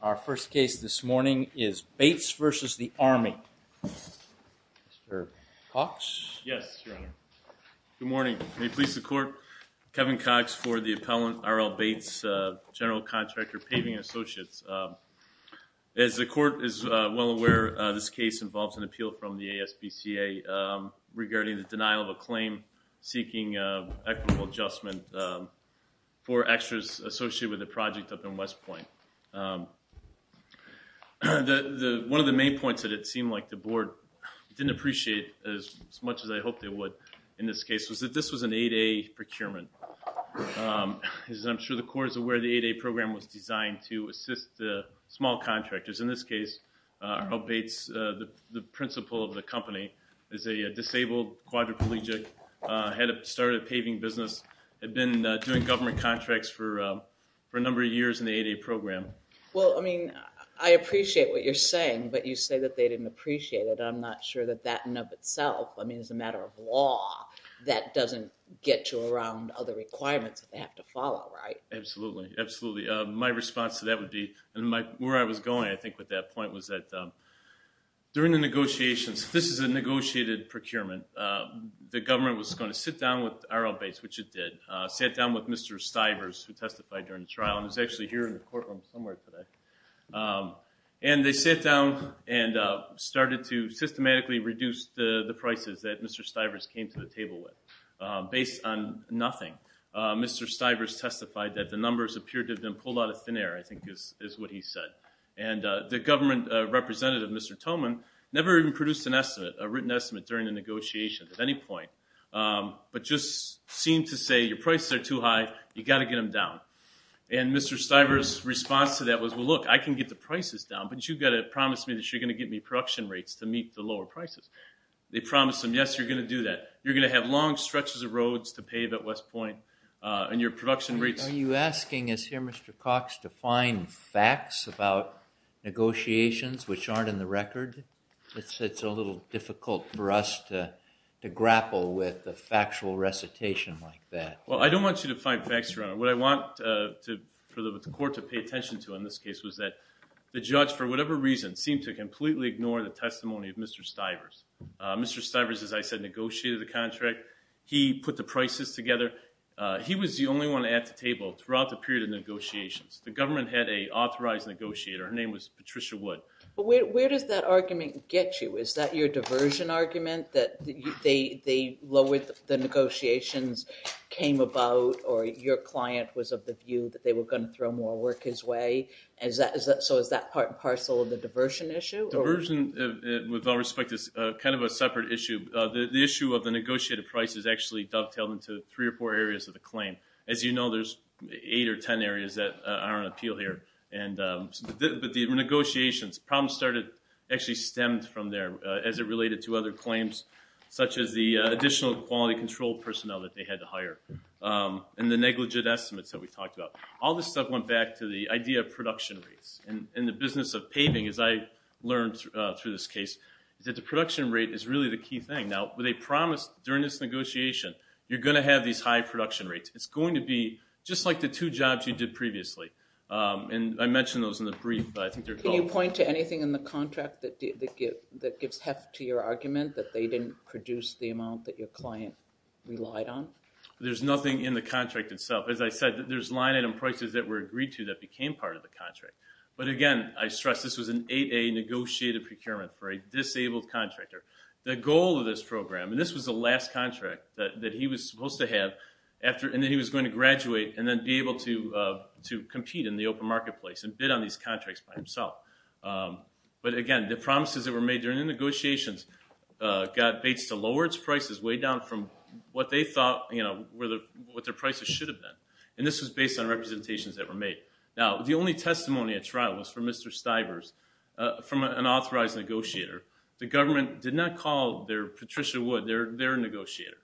Our first case this morning is Bates v. the Army. Mr. Cox? Yes, Your Honor. Good morning. May it please the court, Kevin Cox for the appellant RL Bates, general contractor Paving & Associates. As the court is well aware, this case involves an appeal from the ASBCA regarding the denial of a claim seeking equitable adjustment for West Point. One of the main points that it seemed like the board didn't appreciate as much as I hoped it would in this case was that this was an 8A procurement. As I'm sure the court is aware, the 8A program was designed to assist the small contractors. In this case, RL Bates, the principal of the company, is a disabled quadriplegic, had started a paving business, had been doing government contracts for a number of years in the 8A program. Well, I mean, I appreciate what you're saying, but you say that they didn't appreciate it. I'm not sure that that in and of itself, I mean, as a matter of law, that doesn't get you around other requirements that they have to follow, right? Absolutely. Absolutely. My response to that would be, and where I was going, I think, with that point was that during the negotiations, this is a negotiated procurement. The government was going to sit down with RL Bates, which it did, sat down with Mr. Stivers, who testified during the trial, and he's actually here in the courtroom somewhere today. And they sat down and started to systematically reduce the prices that Mr. Stivers came to the table with based on nothing. Mr. Stivers testified that the numbers appeared to have been pulled out of thin air, I think is what he said. And the government representative, Mr. Thoman, never even produced an estimate, during the negotiations, at any point, but just seemed to say, your prices are too high, you've got to get them down. And Mr. Stivers' response to that was, well, look, I can get the prices down, but you've got to promise me that you're going to give me production rates to meet the lower prices. They promised him, yes, you're going to do that. You're going to have long stretches of roads to pave at West Point, and your production rates... Are you asking us here, Mr. Cox, to find facts about negotiations which aren't in the record? It's a little difficult for us to grapple with a factual recitation like that. Well, I don't want you to find facts, Your Honor. What I want for the court to pay attention to in this case was that the judge, for whatever reason, seemed to completely ignore the testimony of Mr. Stivers. Mr. Stivers, as I said, negotiated the contract. He put the prices together. He was the only one at the table throughout the period of negotiations. The government had an authorized negotiator. Her name was Patricia Wood. But where does that argument get you? Is that your diversion argument that they lowered the negotiations, came about, or your client was of the view that they were going to throw more work his way? So is that part and parcel of the diversion issue? Diversion, with all respect, is kind of a separate issue. The issue of the negotiated price is actually dovetailed into three or four areas of the claim. As you know, there's eight or ten areas that are on appeal here. But the negotiations, problems actually stemmed from there as it related to other claims, such as the additional quality control personnel that they had to hire, and the negligent estimates that we talked about. All this stuff went back to the idea of production rates. In the business of paving, as I learned through this case, is that the production rate is really the key thing. Now, they promised during this negotiation, you're going to have these high production rates. It's going to be just like the two jobs you did previously. I mentioned those in the brief, but I think they're both... Can you point to anything in the contract that gives heft to your argument that they didn't produce the amount that your client relied on? There's nothing in the contract itself. As I said, there's line item prices that were agreed to that became part of the contract. But again, I stress this was an 8A negotiated procurement for a disabled contractor. The goal of this program, and this was the last contract that he was supposed to have, and then he was going to graduate and then be able to compete in the open marketplace and bid on these contracts by himself. But again, the promises that were made during the negotiations got Bates to lower its prices way down from what their prices should have been. This was based on representations that were made. Now, the only testimony at trial was from Mr. Stivers, from an authorized negotiator. The government did not call Patricia Wood their negotiator.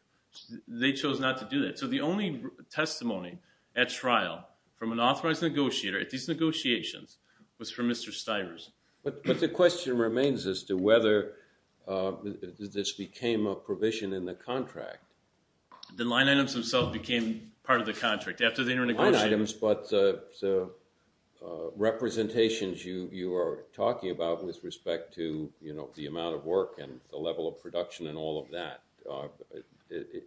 They chose not to do that. So the only testimony at trial from an authorized negotiator at these negotiations was from Mr. Stivers. But the question remains as to whether this became a provision in the contract. The line items themselves became part of the contract after they were negotiated. Not the line items, but the representations you are talking about with respect to the amount of work and the level of production and all of that.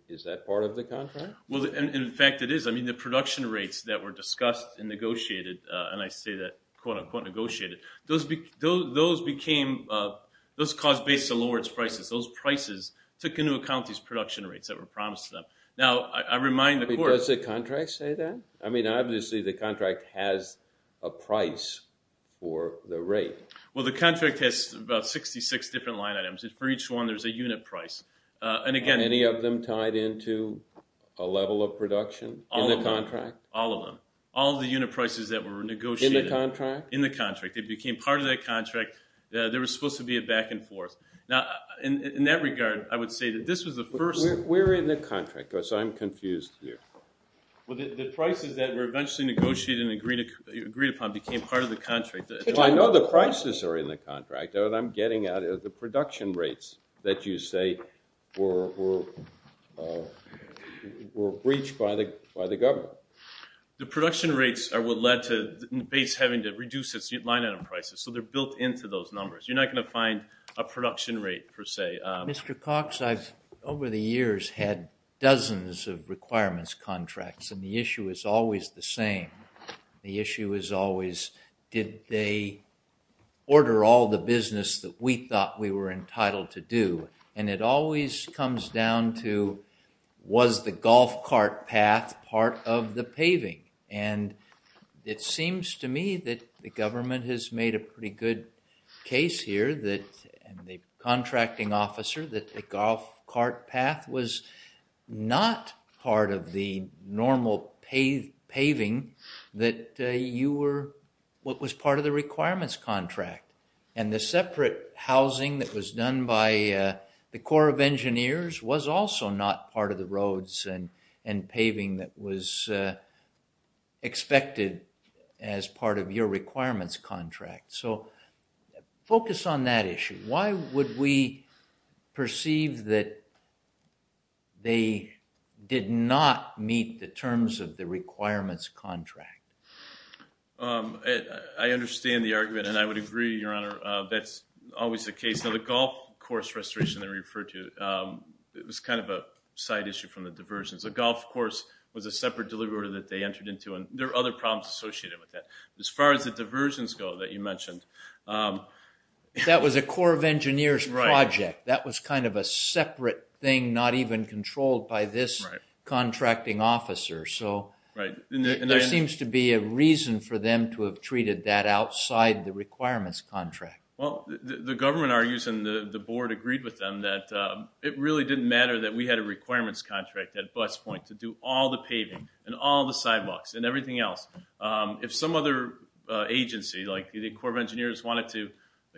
Is that part of the contract? In fact it is. The production rates that were discussed and negotiated, and I say that quote-unquote negotiated, those caused Bates to lower its prices. Those prices took into account. Does the contract say that? I mean obviously the contract has a price for the rate. Well, the contract has about 66 different line items and for each one there is a unit price. Are any of them tied into a level of production in the contract? All of them. All of the unit prices that were negotiated. In the contract? In the contract. They became part of that contract. There was supposed to be a back and forth. Now, in that regard, I would say that this was the first. We are in the contract. I am confused here. The prices that were eventually negotiated and agreed upon became part of the contract. I know the prices are in the contract. What I am getting at is the production rates that you say were breached by the government. The production rates are what led to Bates having to reduce its line item prices. So they are built into those numbers. You are not going to find a production rate per se. Mr. Cox, I have over the years had dozens of requirements contracts and the issue is always the same. The issue is always did they order all the business that we thought we were entitled to do? And it always comes down to was the golf cart path part of the paving? And it seems to me that the government has made a pretty good case here that the contracting officer that the golf cart path was not part of the normal paving that you were what was part of the requirements contract. And the separate housing that was done by the Corps of Engineers was also not part of the roads and paving that was expected as part of your perceived that they did not meet the terms of the requirements contract. I understand the argument and I would agree, Your Honor, that is always the case. Now the golf course restoration that you referred to, it was kind of a side issue from the diversions. The golf course was a separate delivery order that they entered into and there are other problems associated with that. As far as the diversions go that you mentioned. That was a Corps of Engineers project. That was kind of a separate thing not even controlled by this contracting officer. So there seems to be a reason for them to have treated that outside the requirements contract. Well, the government argues and the board agreed with them that it really didn't matter that we had a requirements contract at bus point to do all the paving and all the sidewalks and everything else. If some other agency like the Corps of Engineers wanted to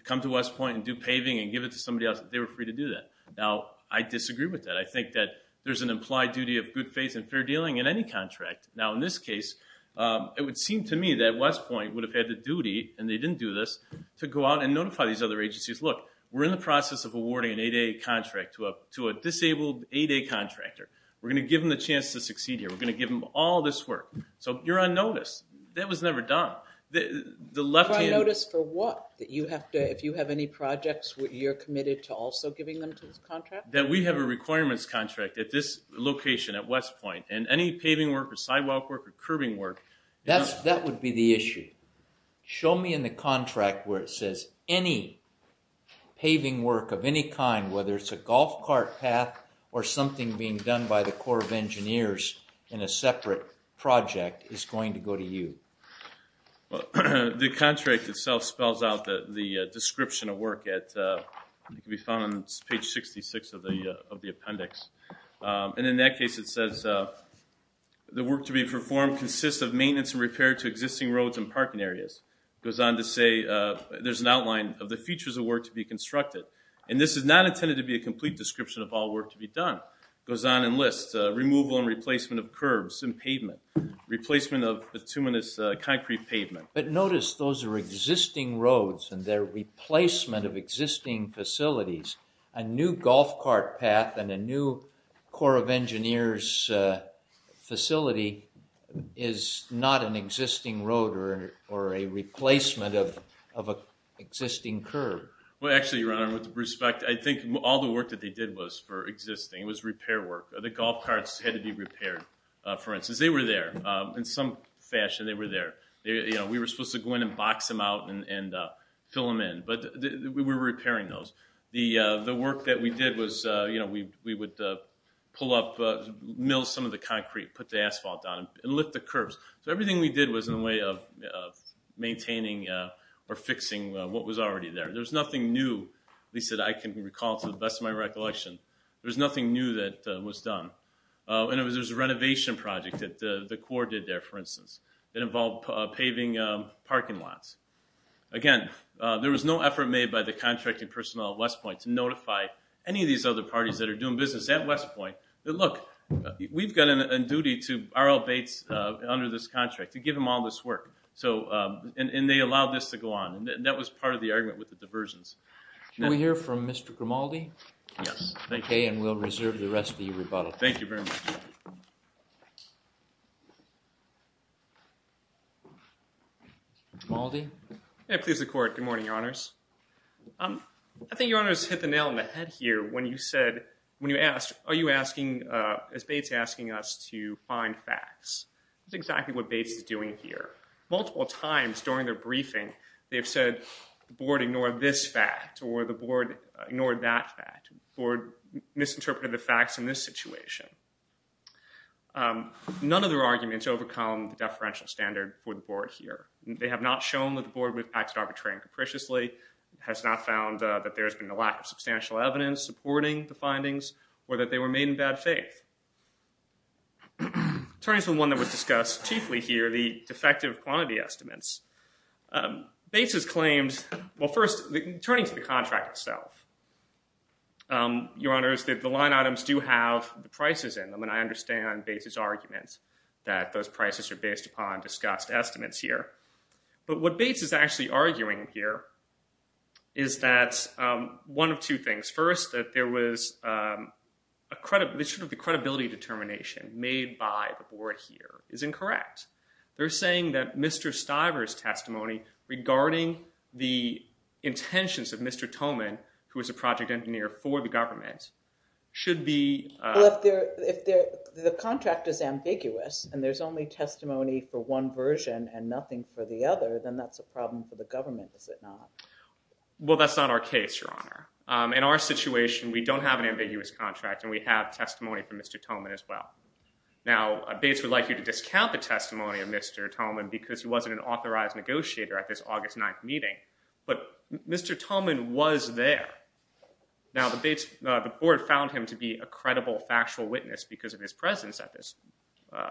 come to West Point and do paving and give it to somebody else, they were free to do that. Now I disagree with that. I think that there's an implied duty of good faith and fair dealing in any contract. Now in this case, it would seem to me that West Point would have had the duty, and they didn't do this, to go out and notify these other agencies, look, we're in the process of awarding an 8A contract to a disabled 8A contractor. We're going to give them the chance to succeed here. We're going to give them all this work. So you're on notice. That was never done. You're on notice for what? That if you have any projects, you're committed to also giving them to this contract? That we have a requirements contract at this location at West Point, and any paving work or sidewalk work or curbing work. That would be the issue. Show me in the contract where it says any paving work of any kind, whether it's a golf cart path or something being done by the Corps of Engineers in a separate project, is going to go to you. The contract itself spells out the description of work. It can be found on page 66 of the appendix. And in that case, it says the work to be performed consists of maintenance and repair to existing roads and parking areas. It goes on to say there's an outline of the features of work to be constructed. And this is not intended to be a complete description of all work to be done. It goes on and lists removal and replacement of curbs and pavement, replacement of bituminous concrete pavement. But notice those are existing roads, and they're replacement of existing facilities. A new golf cart path and a new Corps of Engineers facility is not an existing road or a replacement of an existing curb. Well, actually, Your Honor, with respect, I think all the work that they did was for existing. It was repair work. The golf carts had to be repaired, for instance. They were there. In some fashion, they were there. We were supposed to go in and box them out and fill them in. But we were repairing those. The work that we did was we would pull up, mill some of the concrete, put the asphalt down, and lift the curbs. So everything we did was in the way of maintaining or fixing what was already there. There was nothing new, at least that I can recall to the best of my recollection. There was nothing new that was done. And there was a renovation project that the Corps did there, for instance, that involved paving parking lots. Again, there was no effort made by the contracting personnel at West Point to notify any of these other parties that are doing business at West Point that, look, we've got a duty to R.L. Bates under this contract to give him all this work. And they allowed this to go on. And that was part of the argument with the diversions. Can we hear from Mr. Grimaldi? Yes, thank you. Okay, and we'll reserve the rest of the rebuttal. Thank you very much. Mr. Grimaldi? May it please the Court. Good morning, Your Honors. I think Your Honors hit the nail on the head here when you said, when you asked, are you asking, is Bates asking us to find facts? That's exactly what Bates is doing here. Multiple times during their briefing, they've said, the Board ignored this fact, or the Board ignored that fact, or misinterpreted the facts in this situation. None of their arguments overcome the deferential standard for the Board here. They have not shown that the Board acted arbitrarily and capriciously, has not found that there were made in bad faith. Turning to one that was discussed chiefly here, the defective quantity estimates, Bates has claimed, well, first, turning to the contract itself, Your Honors, that the line items do have the prices in them. And I understand Bates' argument that those prices are based upon discussed estimates here. But what Bates is actually arguing here is that one of two things. First, that there was a credibility determination made by the Board here is incorrect. They're saying that Mr. Stiver's testimony regarding the intentions of Mr. Toman, who was a project engineer for the government, should be- Well, if the contract is ambiguous, and there's only testimony for one version and nothing for the other, then that's a problem for the government, is it not? Well, that's not our case, Your Honor. In our situation, we don't have an ambiguous contract, and we have testimony from Mr. Toman as well. Now, Bates would like you to discount the testimony of Mr. Toman because he wasn't an authorized negotiator at this August 9th meeting. But Mr. Toman was there. Now, the Board found him to be a credible factual witness because of his presence at this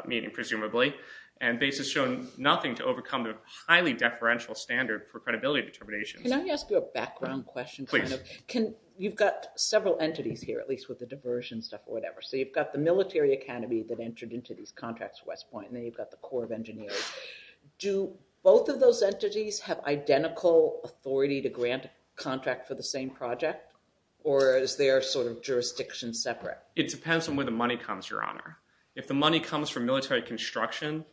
meeting, presumably. And Bates has shown nothing to overcome the highly deferential standard for credibility determinations. Can I ask you a background question? Please. You've got several entities here, at least with the diversion stuff or whatever. So you've got the Military Academy that entered into these contracts for West Point, and then you've got the Corps of Engineers. Do both of those entities have identical authority to grant a contract for the same project, or is there sort of jurisdiction separate? It depends on where the money comes, Your Honor. If the money comes from military construction,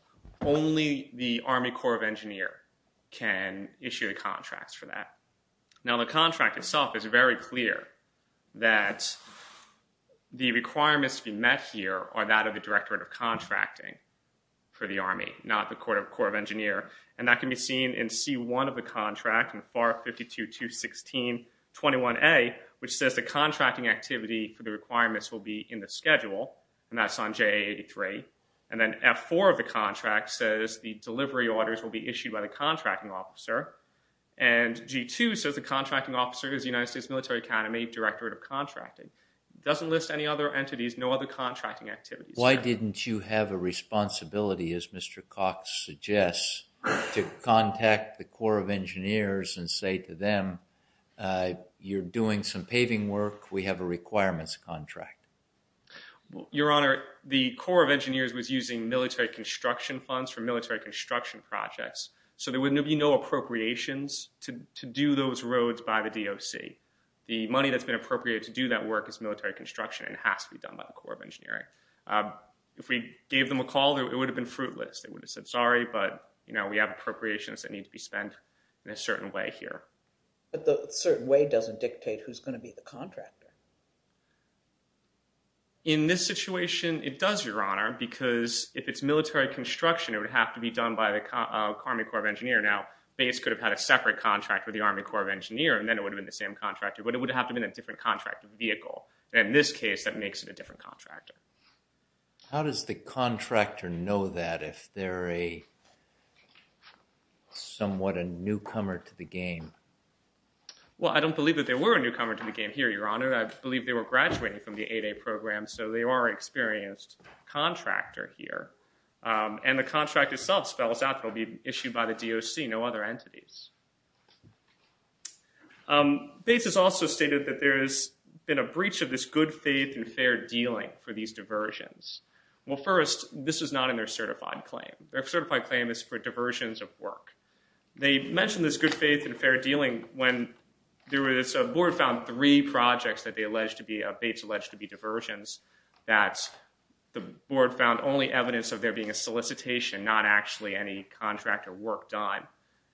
only the Army Corps of Engineers can issue contracts for that. Now, the contract itself is very clear that the requirements to be met here are that of the Directorate of Contracting for the Army, not the Corps of Engineers. And that can be seen in C-1 of the contract, FAR 52216-21A, which says the contracting activity for the requirements will be in the schedule, and that's on JA-83. And then F-4 of the contract says the delivery orders will be issued by the contracting officer. And G-2 says the contracting officer is the United States Military Academy Directorate of Contracting. It doesn't list any other entities, no other contracting activities. Why didn't you have a responsibility, as Mr. Cox suggests, to contact the Corps of Engineers and say to them, you're doing some paving work, we have a requirements contract? Your Honor, the Corps of Engineers was using military construction funds for military construction projects, so there would be no appropriations to do those roads by the DOC. The money that's been appropriated to do that work is military construction and has to be done by the Corps of Engineering. If we gave them a call, it would have been fruitless. They would have said, sorry, but we have appropriations that need to be spent in a certain way here. But the certain way doesn't dictate who's going to be the contractor. In this situation, it does, Your Honor, because if it's military construction, it would have to be done by the Army Corps of Engineers. Now, BASE could have had a separate contract with the Army Corps of Engineers, and then it would have been the same contractor, but it would have to have been a different contract vehicle. In this case, that makes it a different contractor. How does the contractor know that if they're somewhat a newcomer to the game? Well, I don't believe that they were a newcomer to the game here, Your Honor. I believe they were graduating from the 8A program, so they are an experienced contractor here. And the contract itself spells out they'll be issued by the DOC, no other entities. BASE has also stated that there has been a breach of this good faith and fair dealing for these diversions. Well, first, this is not in their certified claim. Their certified claim is for diversions of work. They mentioned this good faith and fair dealing when there was a board found three projects that BASE alleged to be diversions that the board found only evidence of there being a solicitation, not actually any contractor work done.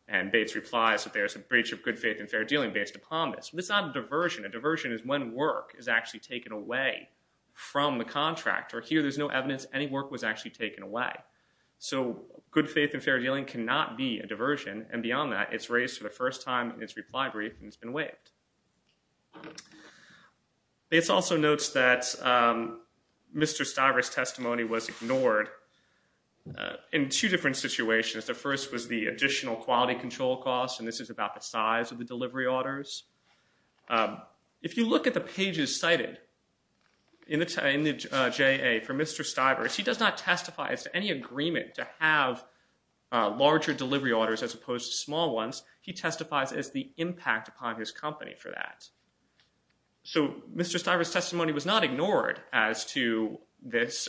And BASE replies that there's a breach of good faith and fair dealing based upon this. This is not a diversion. A diversion is when work is actually taken away from the contractor. Here, there's no evidence any work was actually taken away. So, good faith and fair dealing cannot be a diversion, and beyond that, it's raised for the first time in its reply brief, and it's been waived. BASE also notes that Mr. Stiver's testimony was ignored in two different situations. The first was the additional quality control costs, and this is about the size of the delivery orders. If you look at the pages cited in the JA for Mr. Stiver, he does not testify as to any agreement to have larger delivery orders as opposed to small ones. He testifies as the impact upon his company for that. So, Mr. Stiver's testimony was not ignored as to this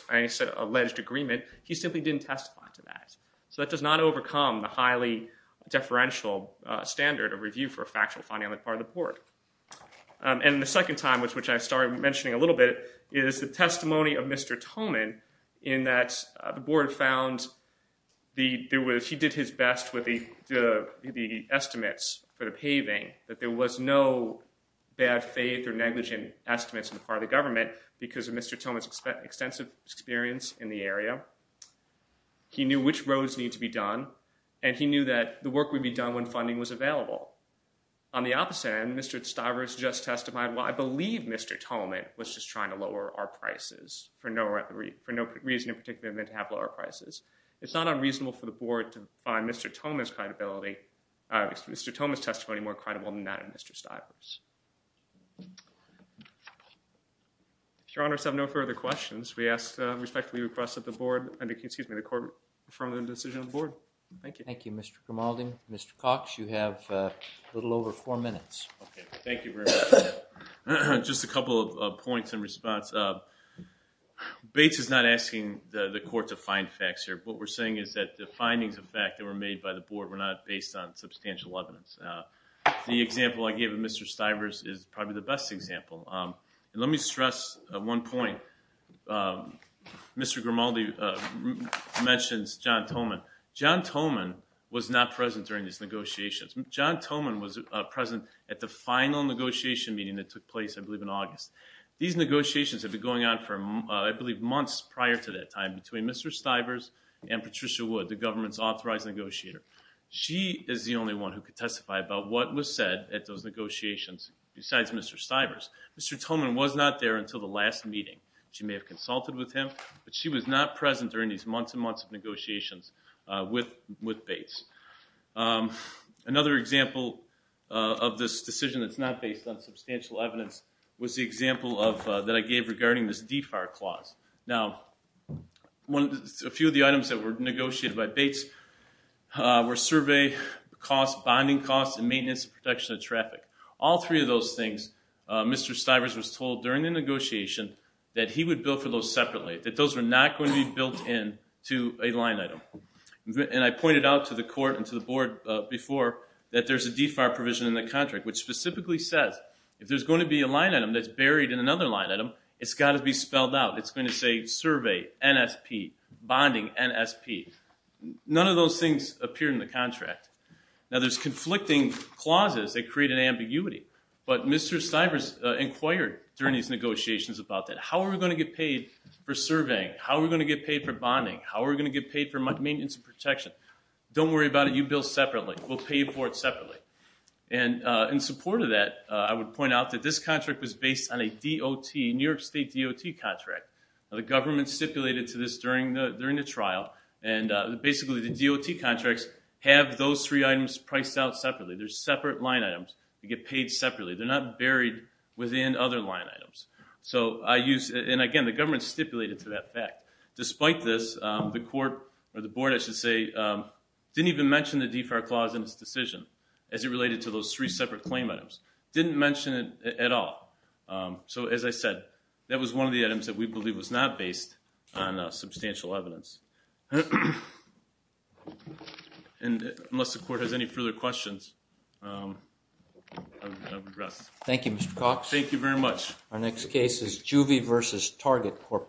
alleged agreement. He simply didn't testify to that. So, that does not overcome the highly deferential standard of review for a factual, financial part of the board. And the second time, which I started mentioning a little bit, is the testimony of Mr. Tolman in that the board found he did his best with the estimates for the paving, that there was no bad faith or negligent estimates on the part of the government because of Mr. Tolman's extensive experience in the area. He knew which roads needed to be done, and he knew that the work would be done when funding was available. On the opposite end, Mr. Stiver's just testified, well, I believe Mr. Tolman was just trying to lower our prices for no reason in particular than to have lower prices. It's not unreasonable for the board to find Mr. Tolman's credibility, Mr. Tolman's testimony more credible than that of Mr. Stiver's. If your honors have no further questions, we respectfully request that the board, excuse me, the court, confirm the decision of the board. Thank you. Thank you, Mr. Grimaldi. Mr. Cox, you have a little over four minutes. Okay. Thank you very much. Just a couple of points in response. Bates is not asking the court to find facts here. What we're saying is that the findings of fact that were made by the board were not based on substantial evidence. The example I gave of Mr. Stiver's is probably the best example. Let me stress one point. Mr. Grimaldi mentions John Tolman. John Tolman was not present during these negotiations. John Tolman was present at the final negotiation meeting that took place, I believe, in August. These negotiations had been going on for, I believe, months prior to that time between Mr. Stiver's and Patricia Wood, the government's authorized negotiator. She is the only one who could testify about what was said at those negotiations besides Mr. Stiver's. Mr. Tolman was not there until the last meeting. She may have consulted with him, but she was not present during these months and months of negotiations with Bates. Another example of this decision that's not based on substantial evidence was the example that I gave regarding this DEFAR clause. Now, a few of the items that were negotiated by Bates were survey costs, bonding costs, and maintenance and protection of traffic. All three of those things, Mr. Stiver's was told during the negotiation that he would bill for those separately, that those were not going to be billed in to a line item. And I pointed out to the court and to the board before that there's a DEFAR provision in the contract which specifically says if there's going to be a line item that's buried in another line item, it's got to be spelled out. It's going to say survey, NSP, bonding, NSP. None of those things appear in the contract. Now, there's conflicting clauses that create an ambiguity, but Mr. Stiver's inquired during these negotiations about that. How are we going to get paid for surveying? How are we going to get paid for bonding? How are we going to get paid for maintenance and protection? Don't worry about it. You bill separately. We'll pay you for it separately. And in support of that, I would point out that this contract was based on a DOT, New York State DOT contract. Now, the government stipulated to this during the trial, and basically the DOT contracts have those three items priced out separately. They're separate line items. They get paid separately. They're not buried within other line items. So I use, and again, the government stipulated to that fact. Despite this, the court, or the board I should say, didn't even mention the DFAR clause in its decision as it related to those three separate claim items. Didn't mention it at all. So, as I said, that was one of the items that we believe was not based on substantial evidence. And unless the court has any further questions, I would rest. Thank you, Mr. Cox. Thank you very much. Our next case is Juvie v. Target Corporation.